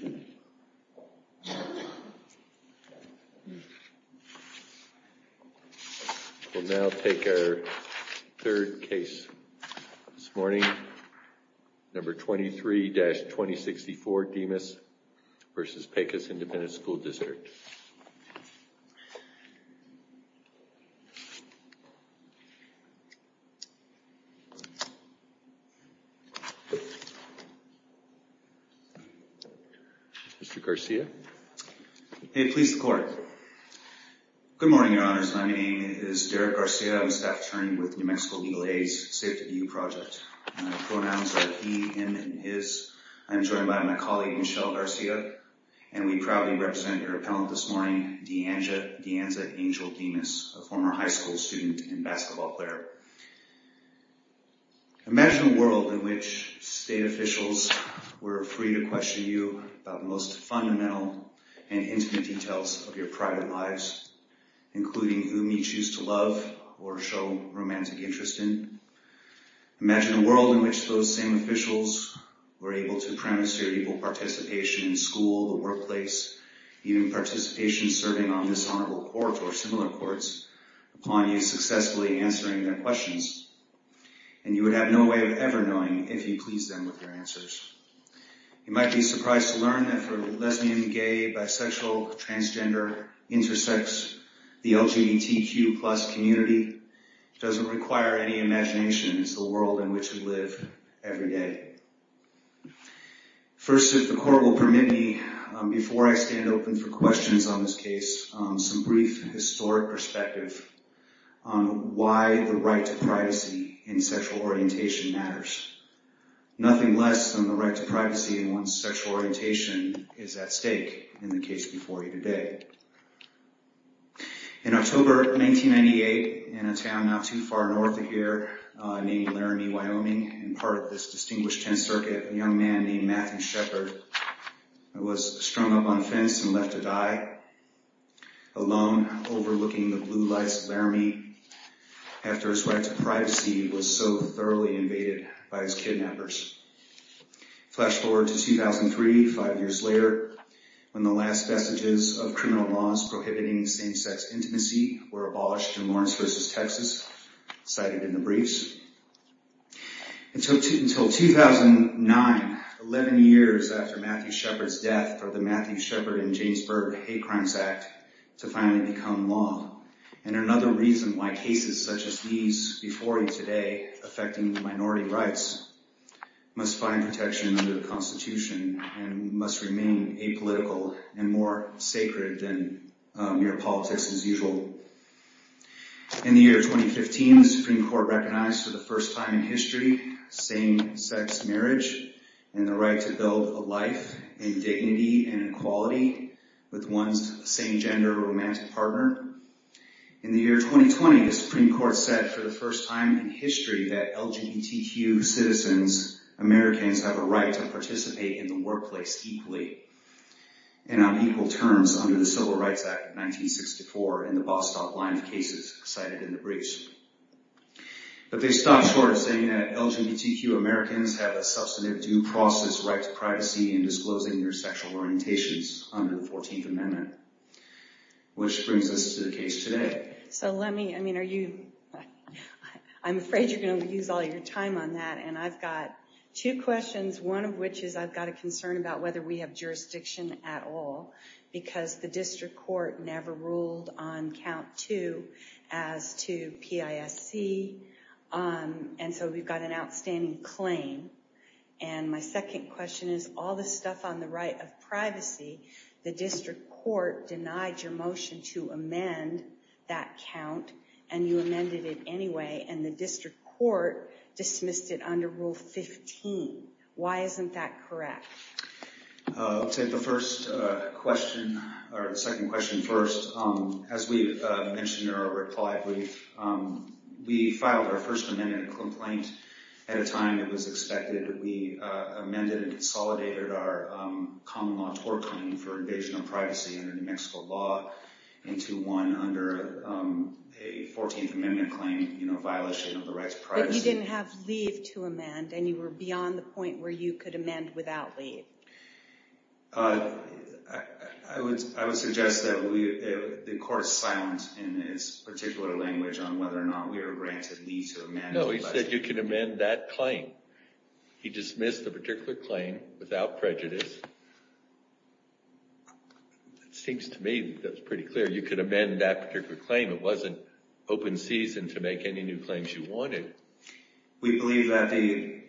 We'll now take our third case this morning, number 23-2064, Dimas v. Pecos Independent School District. Mr. Garcia? Hey, please record. Good morning, Your Honors. My name is Derek Garcia. I'm a staff attorney with New Mexico Legal Aid's Safety View Project. My pronouns are he, him, and his. I'm joined by my colleague Michelle Garcia, and we proudly represent your appellant this morning, DeAnza Angel Dimas, a former high school student and basketball player. Imagine a world in which state officials were free to question you about the most fundamental and intimate details of your private lives, including whom you choose to love or show romantic interest in. Imagine a world in which those same officials were able to premise your equal participation in school, the workplace, even participation serving on this honorable court or similar courts upon you successfully answering their questions, and you would have no way of ever knowing if you pleased them with your answers. You might be surprised to learn that for the lesbian, gay, bisexual, transgender, intersex, the LGBTQ plus community doesn't require any imagination. It's the world in which we live every day. First, if the court will permit me, before I stand open for questions on this case, some brief historic perspective on why the right to privacy in sexual orientation matters. Nothing less than the right to privacy in a town not too far north of here named Laramie, Wyoming, and part of this distinguished 10th circuit, a young man named Matthew Sheppard was strung up on a fence and left to die alone overlooking the blue lights of Laramie after his right to privacy was so thoroughly invaded by his kidnappers. Flash forward to 2003, five years later, when the last vestiges of criminal laws prohibiting same-sex intimacy were abolished in Lawrence versus Texas, cited in the briefs. Until 2009, 11 years after Matthew Sheppard's death for the Matthew Sheppard and James Berg Hate Crimes Act to finally become law, and another reason why cases such as these before you today affecting minority rights must find In the year 2015, the Supreme Court recognized for the first time in history same-sex marriage and the right to build a life in dignity and equality with one's same-gender romantic partner. In the year 2020, the Supreme Court said for the first time in history that LGBTQ citizens, Americans, have a right to privacy in disclosing their sexual orientations under the 14th Amendment, which brings us to the case today. So let me, I mean, are you, I'm afraid you're going to use all your time on that, and I've got two questions, one of which is I've got a concern about whether we have jurisdiction at all, because the district court never ruled on count two as to PISC, and so we've got an outstanding claim, and my second question is, all the stuff on the right of privacy, the district court denied your motion to amend that count, and you amended it anyway, and the district court dismissed it under Rule 15. Why isn't that correct? I'll take the first question, or the second question first. As we've mentioned or replied, we filed our first amendment complaint at a time it was expected. We amended and consolidated our common law tort claim for invasion of privacy under New Mexico law into one under a 14th Amendment claim, you know, but you didn't have leave to amend, and you were beyond the point where you could amend without leave. I would suggest that the court is silent in its particular language on whether or not we are granted leave to amend. No, he said you can amend that claim. He dismissed the particular claim without prejudice. It seems to me that's pretty clear. You could amend that particular claim. It wasn't open season to make any new claims you wanted. We believe that the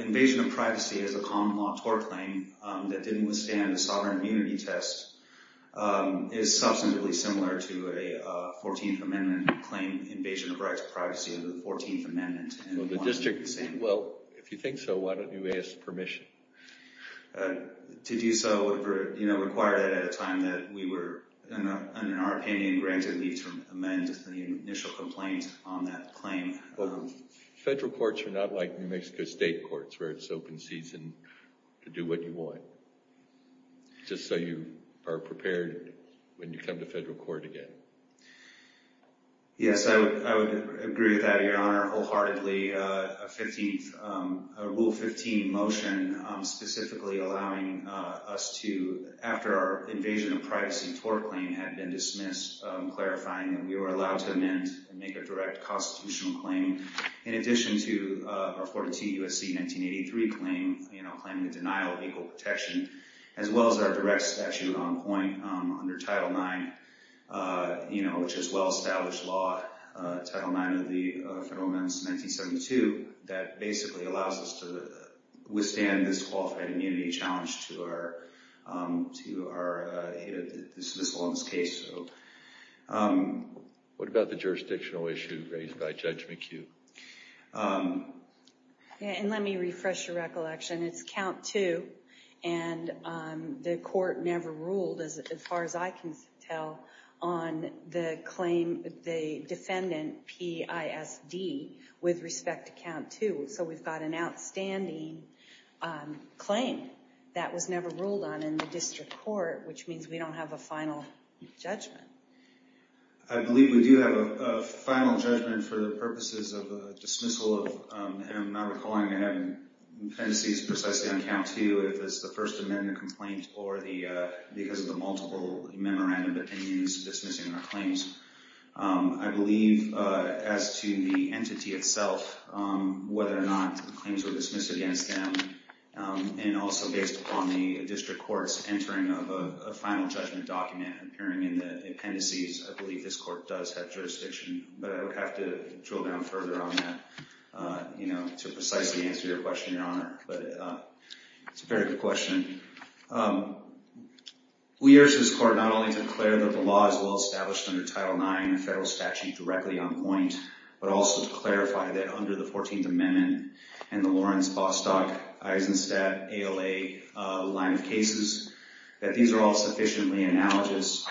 invasion of privacy as a common law tort claim that didn't withstand a sovereign immunity test is substantively similar to a 14th Amendment claim invasion of rights of privacy under the 14th Amendment. Well, if you think so, why don't you ask permission? To do so required it at a time that we were, in our opinion, granted leave to amend the initial complaint on that claim. Federal courts are not like New Mexico state courts where it's open season to do what you want, just so you are prepared when you come to federal court again. Yes, I would agree with that, Your Honor, wholeheartedly. A Rule 15 motion specifically allowing us to, after our invasion of privacy tort claim had been dismissed, clarifying that we were allowed to amend and make a direct constitutional claim in addition to our 42 U.S.C. 1983 claim, claiming the denial of equal protection, as well as our direct statute on point under Title IX, which is well-established law, Title IX of the Federal Amendments in 1972, that basically allows us to withstand this qualified immunity challenge to our dismissal on this case. What about the jurisdictional issue raised by Judge McHugh? And let me refresh your recollection. It's count two, and the court never ruled, as far as I can tell, on the claim, the defendant, PISD, with respect to count two. So we've got an outstanding claim that was never ruled on in the district court, which means we don't have a final judgment. I believe we do have a final judgment for the purposes of a dismissal of, and I'm not recalling, the defendant sees precisely on count two if it's the First Amendment complaint or because of the multiple memorandum opinions dismissing our claims. I believe, as to the entity itself, whether or not the claims were dismissed against them, and also based upon the district court's entering of a final judgment document appearing in the appendices, I believe this court does have jurisdiction, but I would have to drill down further on that to precisely answer your question, Your Honor. But it's a very good question. We urge this court not only to declare that the law is well-established under Title IX, a federal statute directly on point, but also to clarify that under the 14th Amendment and the Lawrence, Bostock, Eisenstadt, ALA line of cases, that these are all sufficiently analogous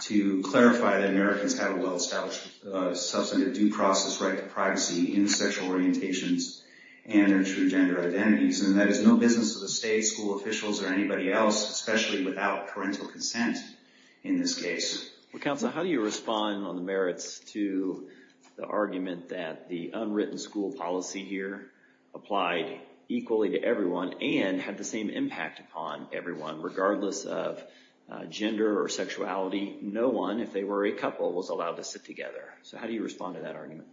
to clarify that Americans have a well-established substantive due process right to privacy in sexual orientations and their true gender identities, and that it's no business to the state, school officials, or anybody else, especially without parental consent in this case. Well, Counsel, how do you respond on the merits to the argument that the unwritten school policy here applied equally to everyone and had the same impact upon everyone, regardless of gender or sexuality? No one, if they were a couple, was allowed to sit together. So how do you respond to that argument?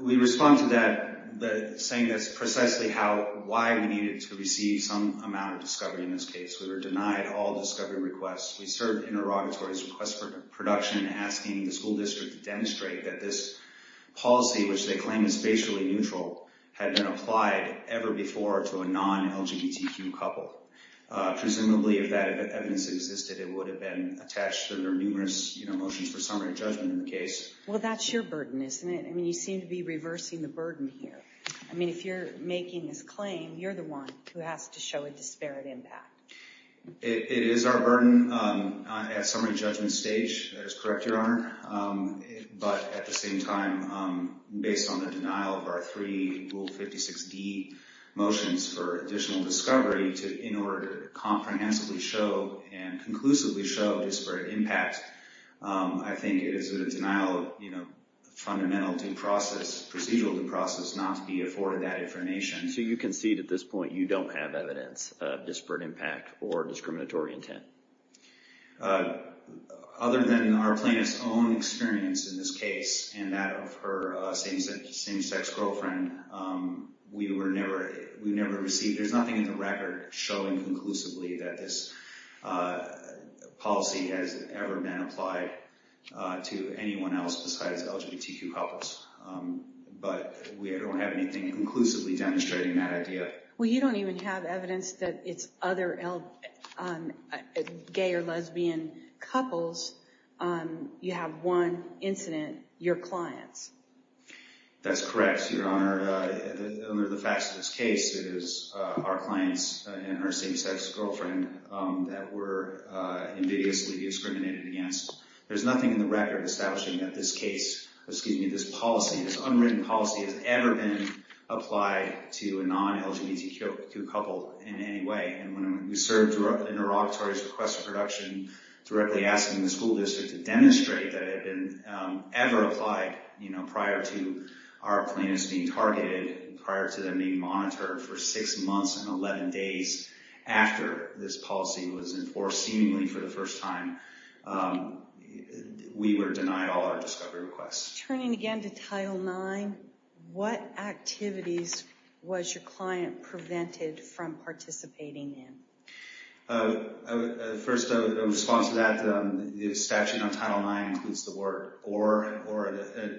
We respond to that saying that's precisely why we needed to receive some amount of discovery in this case. We were denied all discovery requests. We served interrogatories, requests for production, asking the school district to demonstrate that this policy, which they claim is spatially neutral, had been applied ever before to a non-LGBTQ couple. Presumably, if that evidence existed, it would have been attached to their numerous motions for summary judgment in the case. Well, that's your burden, isn't it? I mean, you seem to be reversing the burden here. I mean, if you're making this claim, you're the one who has to show a disparate impact. It is our burden at summary judgment stage. That is correct, Your Honor. But at the same time, based on the denial of our three Rule 56D motions for additional discovery, in order to comprehensively show and conclusively show disparate impact, I think it is a denial of fundamental due process, procedural due process, not to be afforded that information. So you concede at this point you don't have evidence of disparate impact or discriminatory intent? Other than our plaintiff's own experience in this case and that of her same-sex girlfriend, we were never received. There's nothing in the record showing conclusively that this policy has ever been applied to anyone else besides LGBTQ couples. But we don't have anything conclusively demonstrating that idea. Well, you don't even have evidence that it's other gay or lesbian couples. You have one incident, your clients. That's correct, Your Honor. Under the facts of this case, it is our clients and her same-sex girlfriend that were ambiguously discriminated against. There's nothing in the record establishing that this case, excuse me, this policy, this unwritten policy, has ever been applied to a non-LGBTQ couple in any way. And when we served interrogatories, requests for production, directly asking the school district to demonstrate that it had been ever applied prior to our plaintiffs being targeted, prior to them being monitored for six months and 11 days after this policy was enforced, seemingly for the first time, we were denied all our discovery requests. Turning again to Title IX, what activities was your client prevented from participating in? First, in response to that, the statute on Title IX includes the word or, and or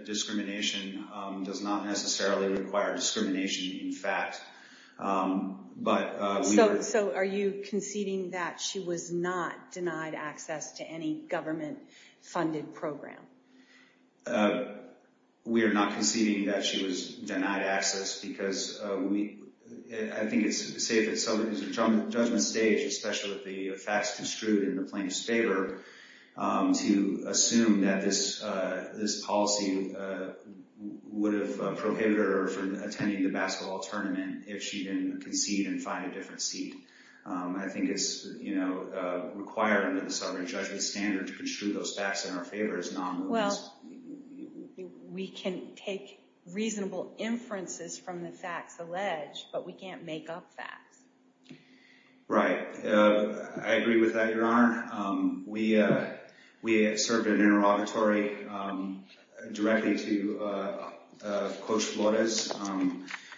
discrimination does not necessarily require discrimination in fact. So are you conceding that she was not denied access to any government-funded program? We are not conceding that she was denied access because we, I think it's safe to say that it's a judgment stage, especially with the facts construed in the plaintiff's favor, to assume that this policy would have prohibited her from attending the basketball tournament if she didn't concede and find a different seat. I think it's required under the sovereign judgment standard to construe those facts in our favor as non-LGBTQs. Well, we can take reasonable inferences from the facts alleged, but we can't make up facts. Right. I agree with that, Your Honor. We served an interrogatory directly to Coach Flores,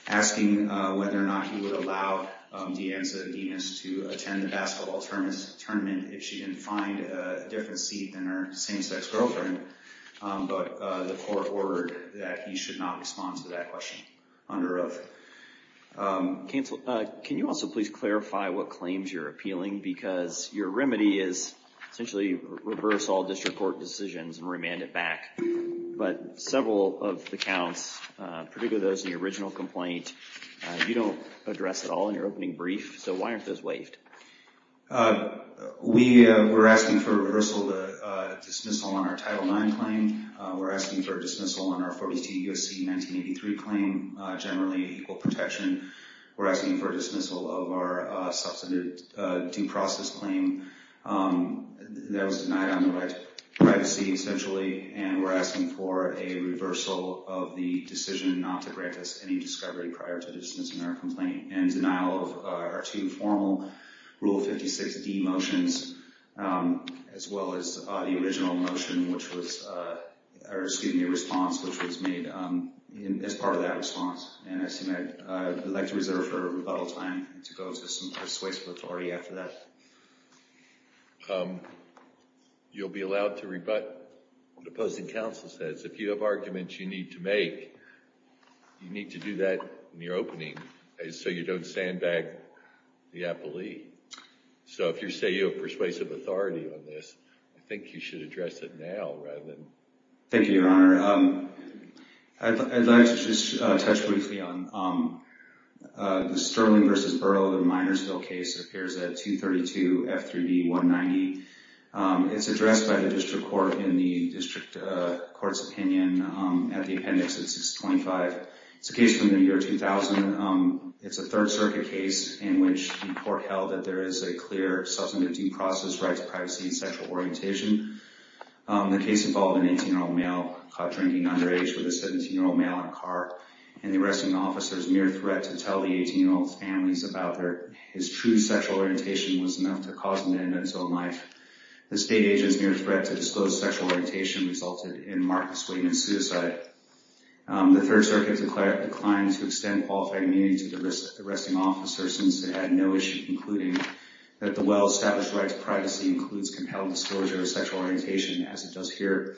asking whether or not he would allow DeAnza Demas to attend the basketball tournament if she didn't find a different seat than her same-sex girlfriend. But the court ordered that he should not respond to that question under oath. Counsel, can you also please clarify what claims you're appealing? Because your remedy is essentially reverse all district court decisions and remand it back. But several of the counts, particularly those in the original complaint, you don't address at all in your opening brief, so why aren't those waived? We were asking for a reversal of the dismissal on our Title IX claim. We're asking for a dismissal on our 42 U.S.C. 1983 claim, generally equal protection. We're asking for a dismissal of our substantive due process claim that was denied on the right to privacy, essentially. And we're asking for a reversal of the decision not to grant us any discovery prior to dismissing our complaint and denial of our two formal Rule 56D motions, as well as the original motion, or excuse me, response, which was made as part of that response. And I'd like to reserve for rebuttal time to go to some persuasive authority after that. You'll be allowed to rebut what opposing counsel says. If you have arguments you need to make, you need to do that in your opening so you don't sandbag the appellee. So if you say you have persuasive authority on this, I think you should address it now rather than... Thank you, Your Honor. I'd like to just touch briefly on the Sterling v. Burroughs and Minersville case. It appears at 232 F3D 190. It's addressed by the district court in the district court's opinion at the appendix at 625. It's a case from the year 2000. It's a Third Circuit case in which the court held that there is a clear substance of due process, rights, privacy, and sexual orientation. The case involved an 18-year-old male caught drinking underage with a 17-year-old male in a car and the arresting officer's mere threat to tell the 18-year-old's families about his true sexual orientation was enough to cause him to end his own life. The state agent's mere threat to disclose sexual orientation resulted in markedly suing and suicide. The Third Circuit declined to extend qualified immunity to the arresting officer since it had no issue concluding that the well-established right to privacy includes compelled disclosure of sexual orientation as it does here.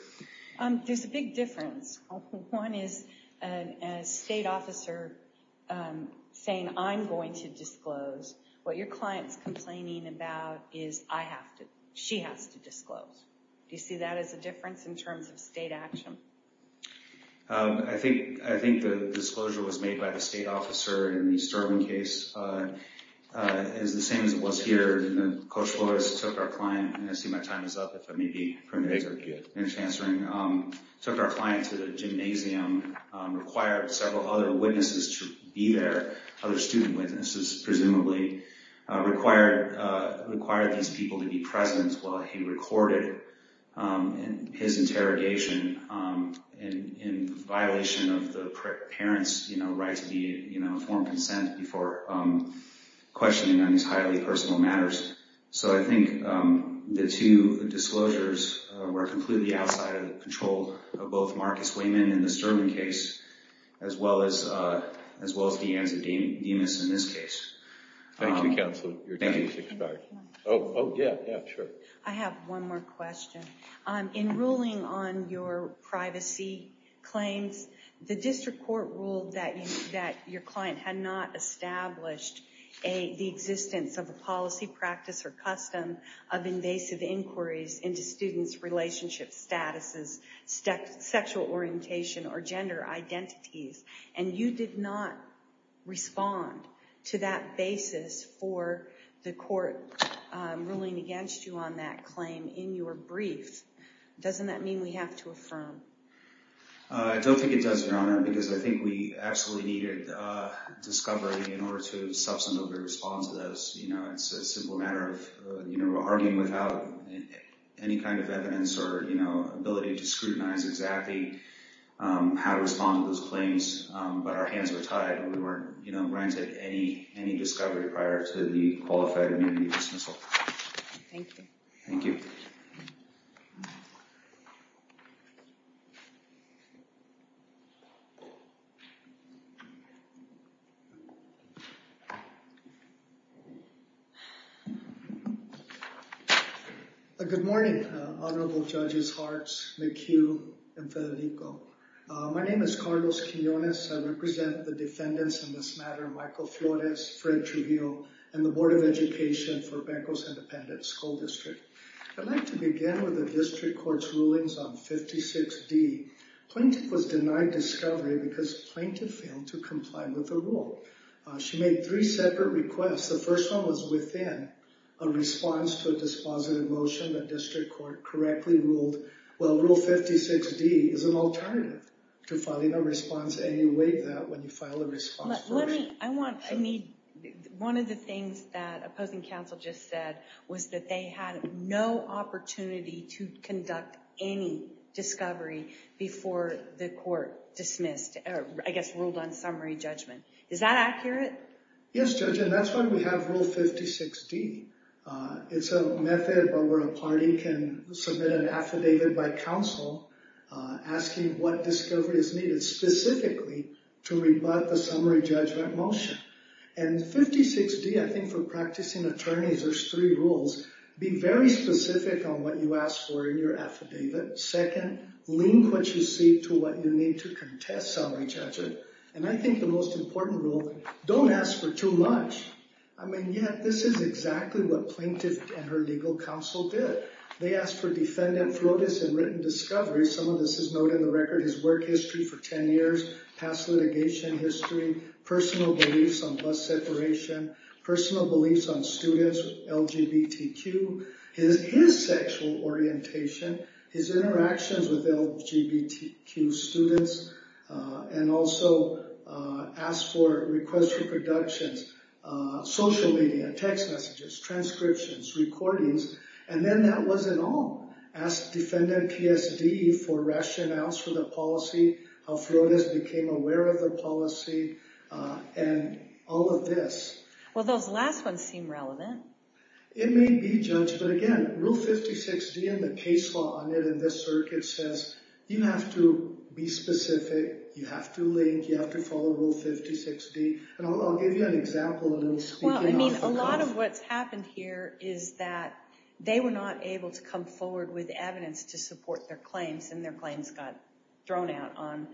There's a big difference. One is a state officer saying, I'm going to disclose. What your client's complaining about is she has to disclose. Do you see that as a difference in terms of state action? I think the disclosure was made by the state officer in the Sterling case. It's the same as it was here. Coach Flores took our client, and I see my time is up, if I may be permitted to finish answering, took our client to the gymnasium, required several other witnesses to be there, other student witnesses presumably, required these people to be present while he recorded his interrogation in violation of the parent's right to be informed of consent before questioning on these highly personal matters. So I think the two disclosures were completely outside of the control of both Marcus Wayman in the Sterling case as well as DeAnza Demas in this case. Thank you, counsel. Your time has expired. Oh, yeah, sure. I have one more question. In ruling on your privacy claims, the district court ruled that your client had not established the existence of a policy, practice, or custom of invasive inquiries into students' relationship statuses, sexual orientation, or gender identities. And you did not respond to that basis for the court ruling against you on that claim in your brief. Doesn't that mean we have to affirm? I don't think it does, Your Honor, because I think we actually needed discovery in order to substantively respond to those. It's a simple matter of arguing without any kind of evidence or ability to scrutinize exactly how to respond to those claims. But our hands were tied. We weren't granted any discovery prior to the qualified immunity dismissal. Thank you. Thank you. Good morning, Honorable Judges Hartz, McHugh, and Federico. My name is Carlos Quinones. I represent the defendants in this matter, Michael Flores, Fred Trujillo, and the Board of Education for Bancos Independente School District. I'd like to begin with the district court's rulings on 56D. Plaintiff was denied discovery because plaintiff failed to comply with the rule. She made three separate requests. The first one was within a response to a dispositive motion that district court correctly ruled, well, Rule 56D is an alternative to filing a response, and you waive that when you file a response. One of the things that opposing counsel just said was that they had no opportunity to conduct any discovery before the court dismissed, I guess, ruled on summary judgment. Is that accurate? Yes, Judge, and that's why we have Rule 56D. It's a method where a party can submit an affidavit by counsel asking what discovery is needed specifically to rebut the summary judgment motion, and 56D, I think, for practicing attorneys, there's three rules. Be very specific on what you ask for in your affidavit. Second, link what you see to what you need to contest summary judgment, and I think the most important rule, don't ask for too much. I mean, yet this is exactly what plaintiff and her legal counsel did. They asked for defendant Throdis and written discovery. Some of this is noted in the record, his work history for 10 years, past litigation history, personal beliefs on bus separation, personal beliefs on students, LGBTQ, his sexual orientation, his interactions with LGBTQ students, and also asked for requests for productions, social media, text messages, transcriptions, recordings, and then that wasn't all. Asked defendant PSD for rationales for the policy, how Throdis became aware of the policy, and all of this. Well, those last ones seem relevant. It may be, Judge, but again, Rule 56D and the case law on it in this circuit says you have to be specific, you have to link, you have to follow Rule 56D, and I'll give you an example of speaking off the cuff. A lot of what's happened here is that they were not able to come forward with evidence to support their claims, and their claims got thrown out on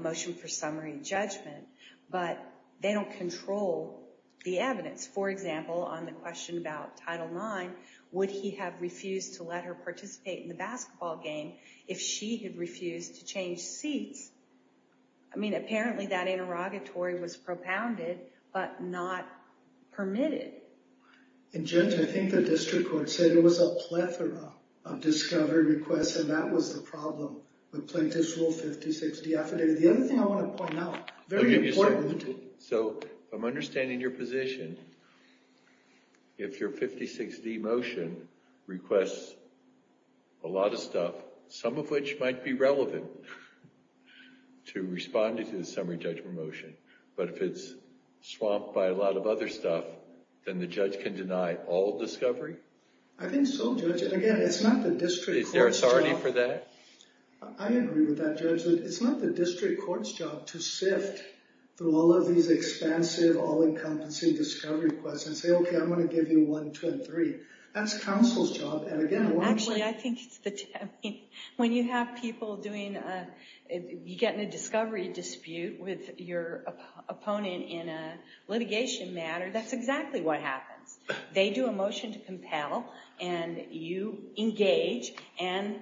motion for summary judgment, but they don't control the evidence. For example, on the question about Title IX, would he have refused to let her participate in the basketball game if she had refused to change seats? I mean, apparently that interrogatory was propounded, but not permitted. And Judge, I think the district court said it was a plethora of discovery requests, and that was the problem with plaintiff's Rule 56D affidavit. The other thing I want to point out, very important. So, I'm understanding your position. If your 56D motion requests a lot of stuff, some of which might be relevant to responding to the summary judgment motion, but if it's swamped by a lot of other stuff, then the judge can deny all discovery? I think so, Judge. And again, it's not the district court's job. Is there authority for that? I agree with that, Judge. It's not the district court's job to sift through all of these expansive, all-encompassing discovery requests and say, okay, I'm going to give you one, two, and three. That's counsel's job. Actually, I think when you have people getting a discovery dispute with your opponent in a litigation matter, that's exactly what happens. They do a motion to compel, and you engage, and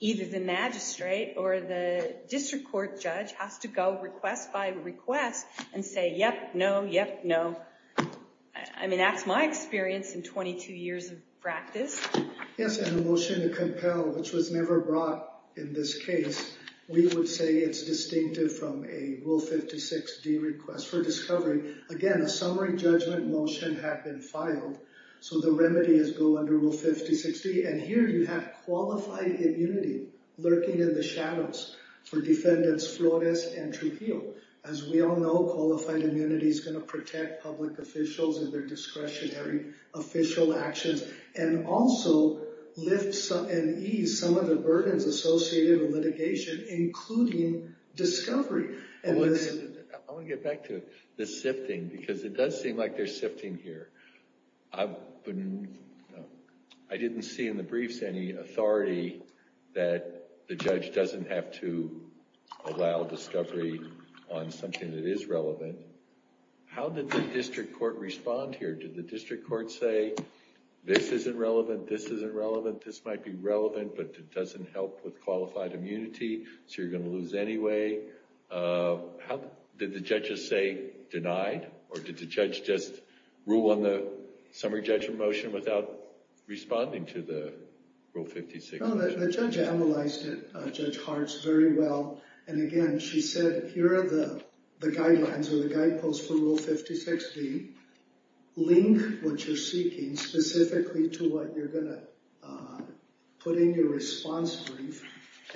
either the magistrate or the district court judge has to go request by request and say, yep, no, yep, no. I mean, that's my experience in 22 years of practice. Yes, and a motion to compel, which was never brought in this case, we would say it's distinctive from a Rule 56D request for discovery. Again, a summary judgment motion had been filed, so the remedy is go under Rule 56D. And here you have qualified immunity lurking in the shadows for defendants Flores and Trujillo. As we all know, qualified immunity is going to protect public officials and their discretionary official actions, and also lift and ease some of the burdens associated with litigation, including discovery. I want to get back to the sifting, because it does seem like there's sifting here. I didn't see in the briefs any authority that the judge doesn't have to allow discovery on something that is relevant. How did the district court respond here? Did the district court say, this isn't relevant, this isn't relevant, this might be relevant, but it doesn't help with qualified immunity, so you're going to lose anyway? Did the judge just say, denied? Or did the judge just rule on the summary judgment motion without responding to the Rule 56? No, the judge analyzed it, Judge Hartz, very well. And again, she said, here are the guidelines or the guideposts for Rule 56D. Link what you're seeking specifically to what you're going to put in your response brief,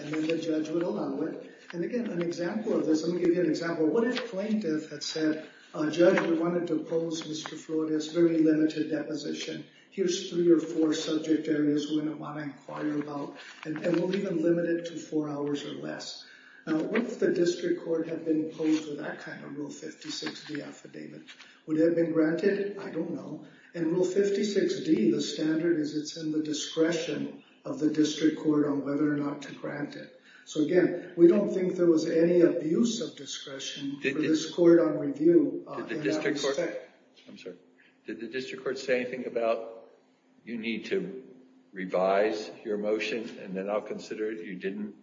and then the judge would allow it. And again, an example of this, I'm going to give you an example. What if plaintiff had said, Judge, we wanted to oppose Mr. Florida's very limited deposition. Here's three or four subject areas we're going to want to inquire about, and we'll even limit it to four hours or less. Now, what if the district court had been opposed to that kind of Rule 56D affidavit? Would it have been granted? I don't know. In Rule 56D, the standard is it's in the discretion of the district court on whether or not to grant it. So again, we don't think there was any abuse of discretion for this court on review. Did the district court say anything about, you need to revise your motion, and then I'll consider it. You didn't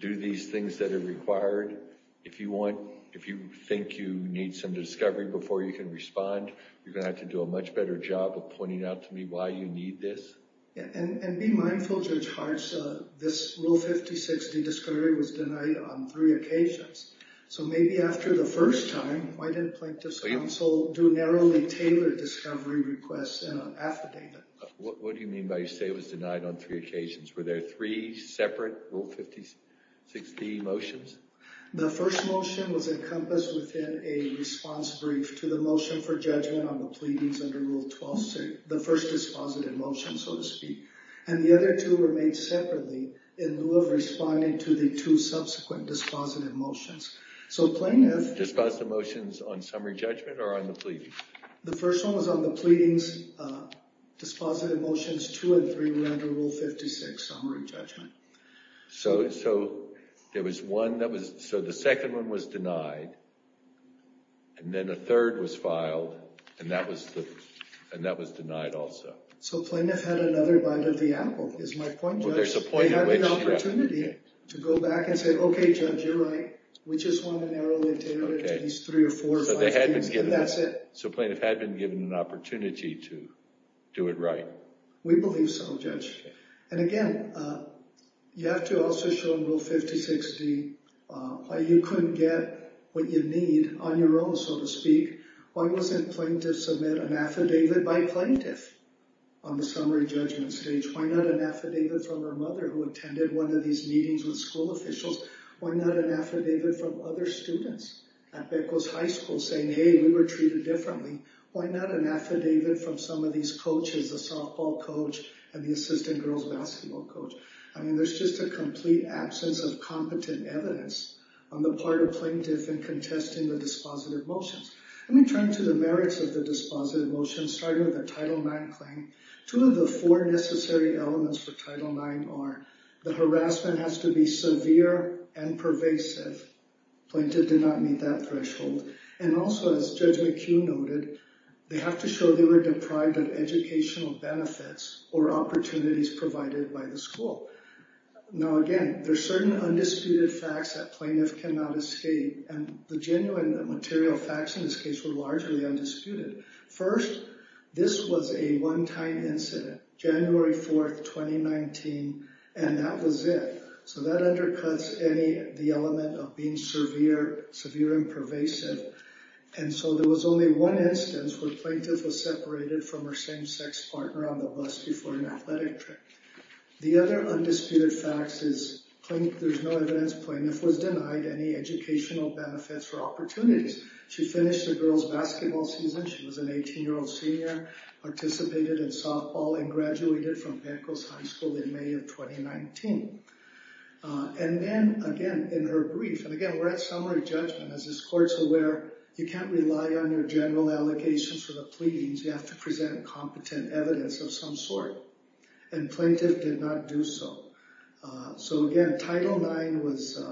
do these things that are required. If you think you need some discovery before you can respond, you're going to have to do a much better job of pointing out to me why you need this. And be mindful, Judge Hartz, this Rule 56D discovery was denied on three occasions. So maybe after the first time, why didn't Plaintiff's Counsel do narrowly tailored discovery requests and affidavit? What do you mean by you say it was denied on three occasions? Were there three separate Rule 56D motions? The first motion was encompassed within a response brief to the motion for judgment on the pleadings under Rule 126, the first dispositive motion, so to speak. And the other two were made separately in lieu of responding to the two subsequent dispositive motions. So Plaintiff... Dispositive motions on summary judgment or on the pleadings? The first one was on the pleadings. Dispositive motions two and three were under Rule 56, summary judgment. So there was one that was... So the second one was denied, and then a third was filed, and that was denied also. So Plaintiff had another bite of the apple, is my point, Judge? Well, there's a point in which... They had the opportunity to go back and say, okay, Judge, you're right. We just want to narrowly tailor it to these three or four... So they had been given... And that's it. So Plaintiff had been given an opportunity to do it right. We believe so, Judge. And, again, you have to also show in Rule 56D why you couldn't get what you need on your own, so to speak. Why wasn't Plaintiff submit an affidavit by Plaintiff on the summary judgment stage? Why not an affidavit from her mother who attended one of these meetings with school officials? Why not an affidavit from other students at Beckwith High School saying, hey, we were treated differently? Why not an affidavit from some of these coaches, the softball coach and the assistant girls basketball coach? I mean, there's just a complete absence of competent evidence on the part of Plaintiff in contesting the dispositive motions. Let me turn to the merits of the dispositive motions, starting with the Title IX claim. Two of the four necessary elements for Title IX are the harassment has to be severe and pervasive. Plaintiff did not meet that threshold. And also, as Judge McHugh noted, they have to show they were deprived of educational benefits or opportunities provided by the school. Now, again, there are certain undisputed facts that Plaintiff cannot escape, and the genuine material facts in this case were largely undisputed. First, this was a one-time incident, January 4, 2019, and that was it. So that undercuts the element of being severe and pervasive. And so there was only one instance where Plaintiff was separated from her same-sex partner on the bus before an athletic trip. The other undisputed fact is there's no evidence Plaintiff was denied any educational benefits or opportunities. She finished the girls' basketball season. She was an 18-year-old senior, participated in softball, and graduated from Beckwith High School in May of 2019. And then, again, in her brief, and again, we're at summary judgment. As this court's aware, you can't rely on your general allegations for the pleadings. You have to present competent evidence of some sort. And Plaintiff did not do so. So again, Title IX was,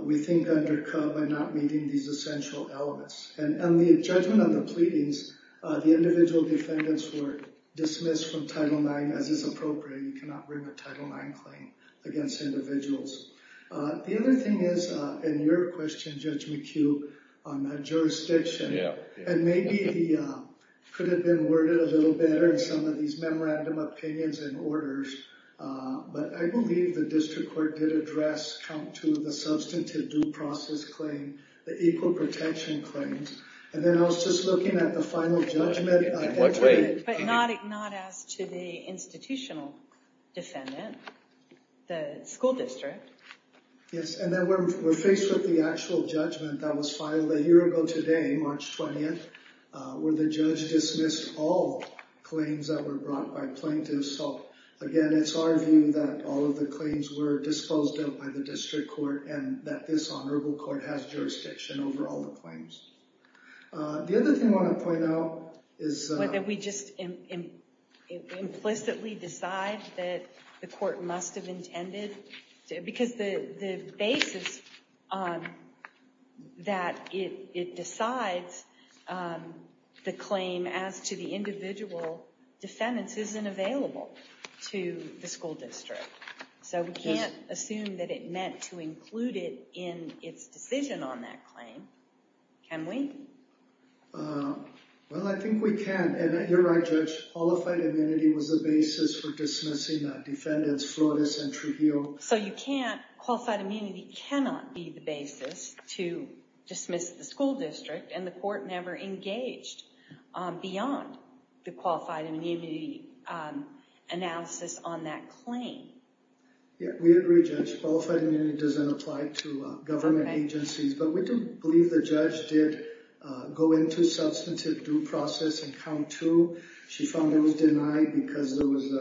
we think, undercut by not meeting these essential elements. And on the judgment of the pleadings, the individual defendants were dismissed from the jury. You cannot bring a Title IX claim against individuals. The other thing is, in your question, Judge McHugh, on that jurisdiction, and maybe it could have been worded a little better in some of these memorandum opinions and orders, but I believe the district court did address count two of the substantive due process claim, the equal protection claims. And then I was just looking at the final judgment. But not as to the institutional defendant, the school district. Yes, and then we're faced with the actual judgment that was filed a year ago today, March 20th, where the judge dismissed all claims that were brought by plaintiffs. So again, it's our view that all of the claims were disposed of by the district court, and that this honorable court has jurisdiction over all the claims. The other thing I want to point out is that we just implicitly decide that the court must have intended, because the basis that it decides the claim as to the individual defendants isn't available to the school district. So we can't assume that it meant to include it in its decision on that claim. Can we? Well, I think we can. And you're right, Judge. Qualified immunity was the basis for dismissing defendants Flores and Trujillo. So you can't, qualified immunity cannot be the basis to dismiss the school district, and the court never engaged beyond the qualified immunity analysis on that claim. Yeah, we agree, Judge. Qualified immunity doesn't apply to government agencies. But we do believe the judge did go into substantive due process in count two. She found it was denied because there was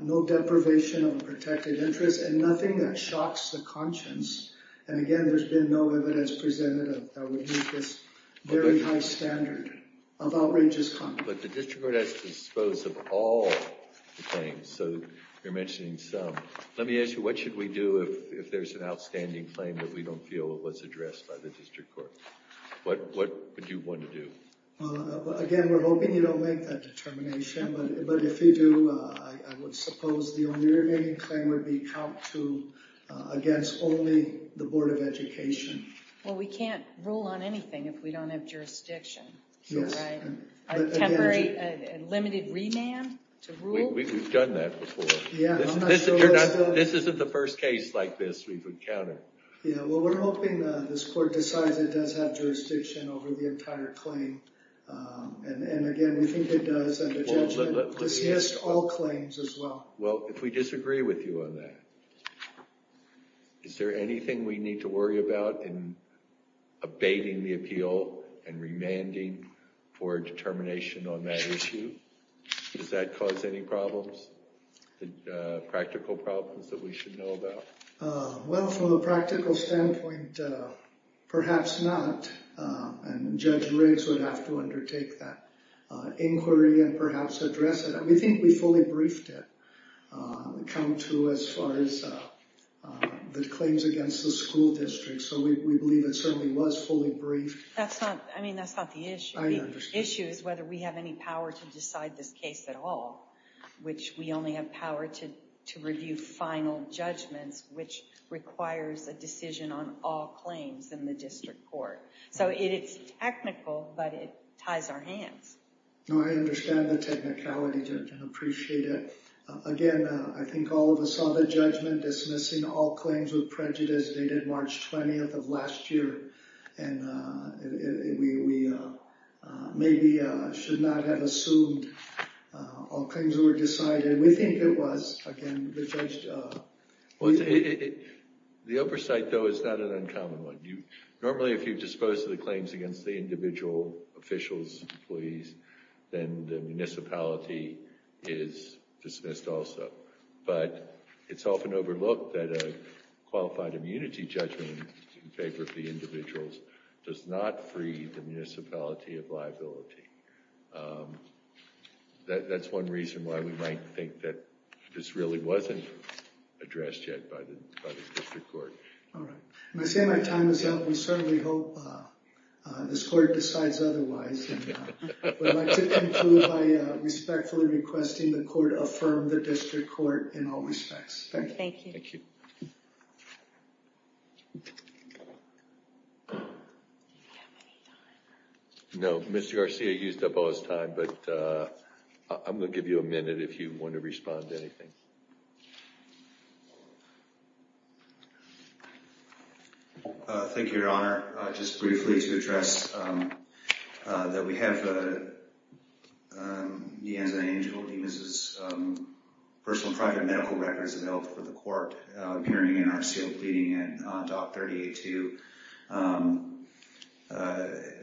no deprivation of a protected interest and nothing that shocks the conscience. And again, there's been no evidence presented that would meet this very high standard of outrageous conduct. But the district court has to dispose of all the claims. So you're mentioning some. Let me ask you, what should we do if there's an outstanding claim that we don't feel was addressed by the district court? What would you want to do? Again, we're hoping you don't make that determination. But if you do, I would suppose the only remaining claim would be count two against only the Board of Education. Well, we can't rule on anything if we don't have jurisdiction. Right? A temporary, limited remand to rule? We've done that before. This isn't the first case like this we've encountered. Yeah, well, we're hoping this court decides it does have jurisdiction over the entire claim. And again, we think it does. And the judge has all claims as well. Well, if we disagree with you on that, is there anything we need to worry about in abating the appeal and remanding for a determination on that issue? Does that cause any problems? Practical problems that we should know about? Well, from a practical standpoint, perhaps not. And Judge Riggs would have to undertake that inquiry and perhaps address it. We think we fully briefed it, count two as far as the claims against the school district. So we believe it certainly was fully briefed. I mean, that's not the issue. I understand. The issue is whether we have any power to decide this case at all, which we only have power to review final judgments, which requires a decision on all claims in the district court. So it's technical, but it ties our hands. No, I understand the technicality, Judge, and appreciate it. Again, I think all of us saw the judgment dismissing all claims with prejudice dated March 20th of last year. And we maybe should not have assumed all claims were decided. We think it was. Again, the judge... The oversight, though, is not an uncommon one. Normally, if you dispose of the claims against the individual officials, employees, then the municipality is dismissed also. But it's often overlooked that a qualified immunity judgment in favor of the individuals does not free the municipality of liability. That's one reason why we might think that this really wasn't addressed yet by the district court. All right. I'm going to say my time is up. We certainly hope this court decides otherwise. We'd like to conclude by respectfully requesting the court affirm the district court in all respects. Thank you. Thank you. No, Mr. Garcia used up all his time, but I'm going to give you a minute if you want to respond to anything. Thank you, Your Honor. Just briefly to address that we have Neanza Angel, personal and private medical records available for the court appearing in our sealed pleading in Doc 38-2.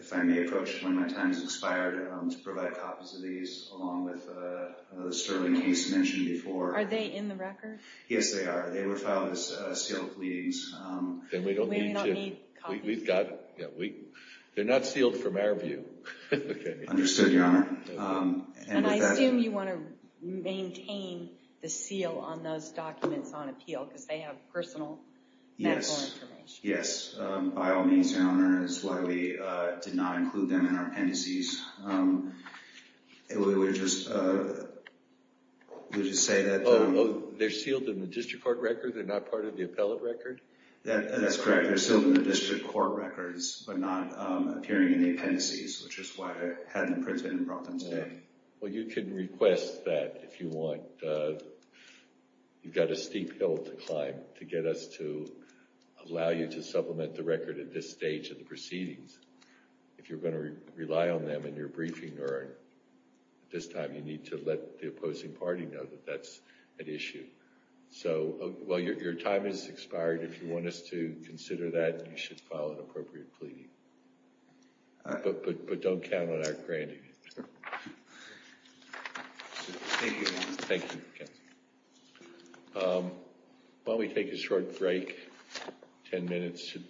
If I may approach, one of my time has expired, to provide copies of these, along with the Sterling case mentioned before. Are they in the record? Yes, they are. They were filed as sealed pleadings. Then we don't need to... We do not need copies? We've got... They're not sealed from our view. Understood, Your Honor. I assume you want to maintain the seal on those documents on appeal because they have personal medical information. Yes. By all means, Your Honor. That's why we did not include them in our appendices. Would you say that... They're sealed in the district court record? They're not part of the appellate record? That's correct. They're sealed in the district court records, but not appearing in the appendices, which is why I hadn't printed and brought them today. Well, you can request that if you want. You've got a steep hill to climb to get us to allow you to supplement the record at this stage of the proceedings. If you're going to rely on them in your briefing, or at this time, you need to let the opposing party know that that's an issue. So, well, your time has expired. If you want us to consider that, you should file an appropriate pleading. But don't count on our granting it. Thank you, Your Honor. Thank you. Why don't we take a short break? Ten minutes should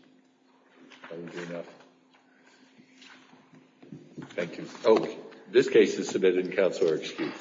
probably be enough. Thank you. Oh, this case is submitted and counsel are excused.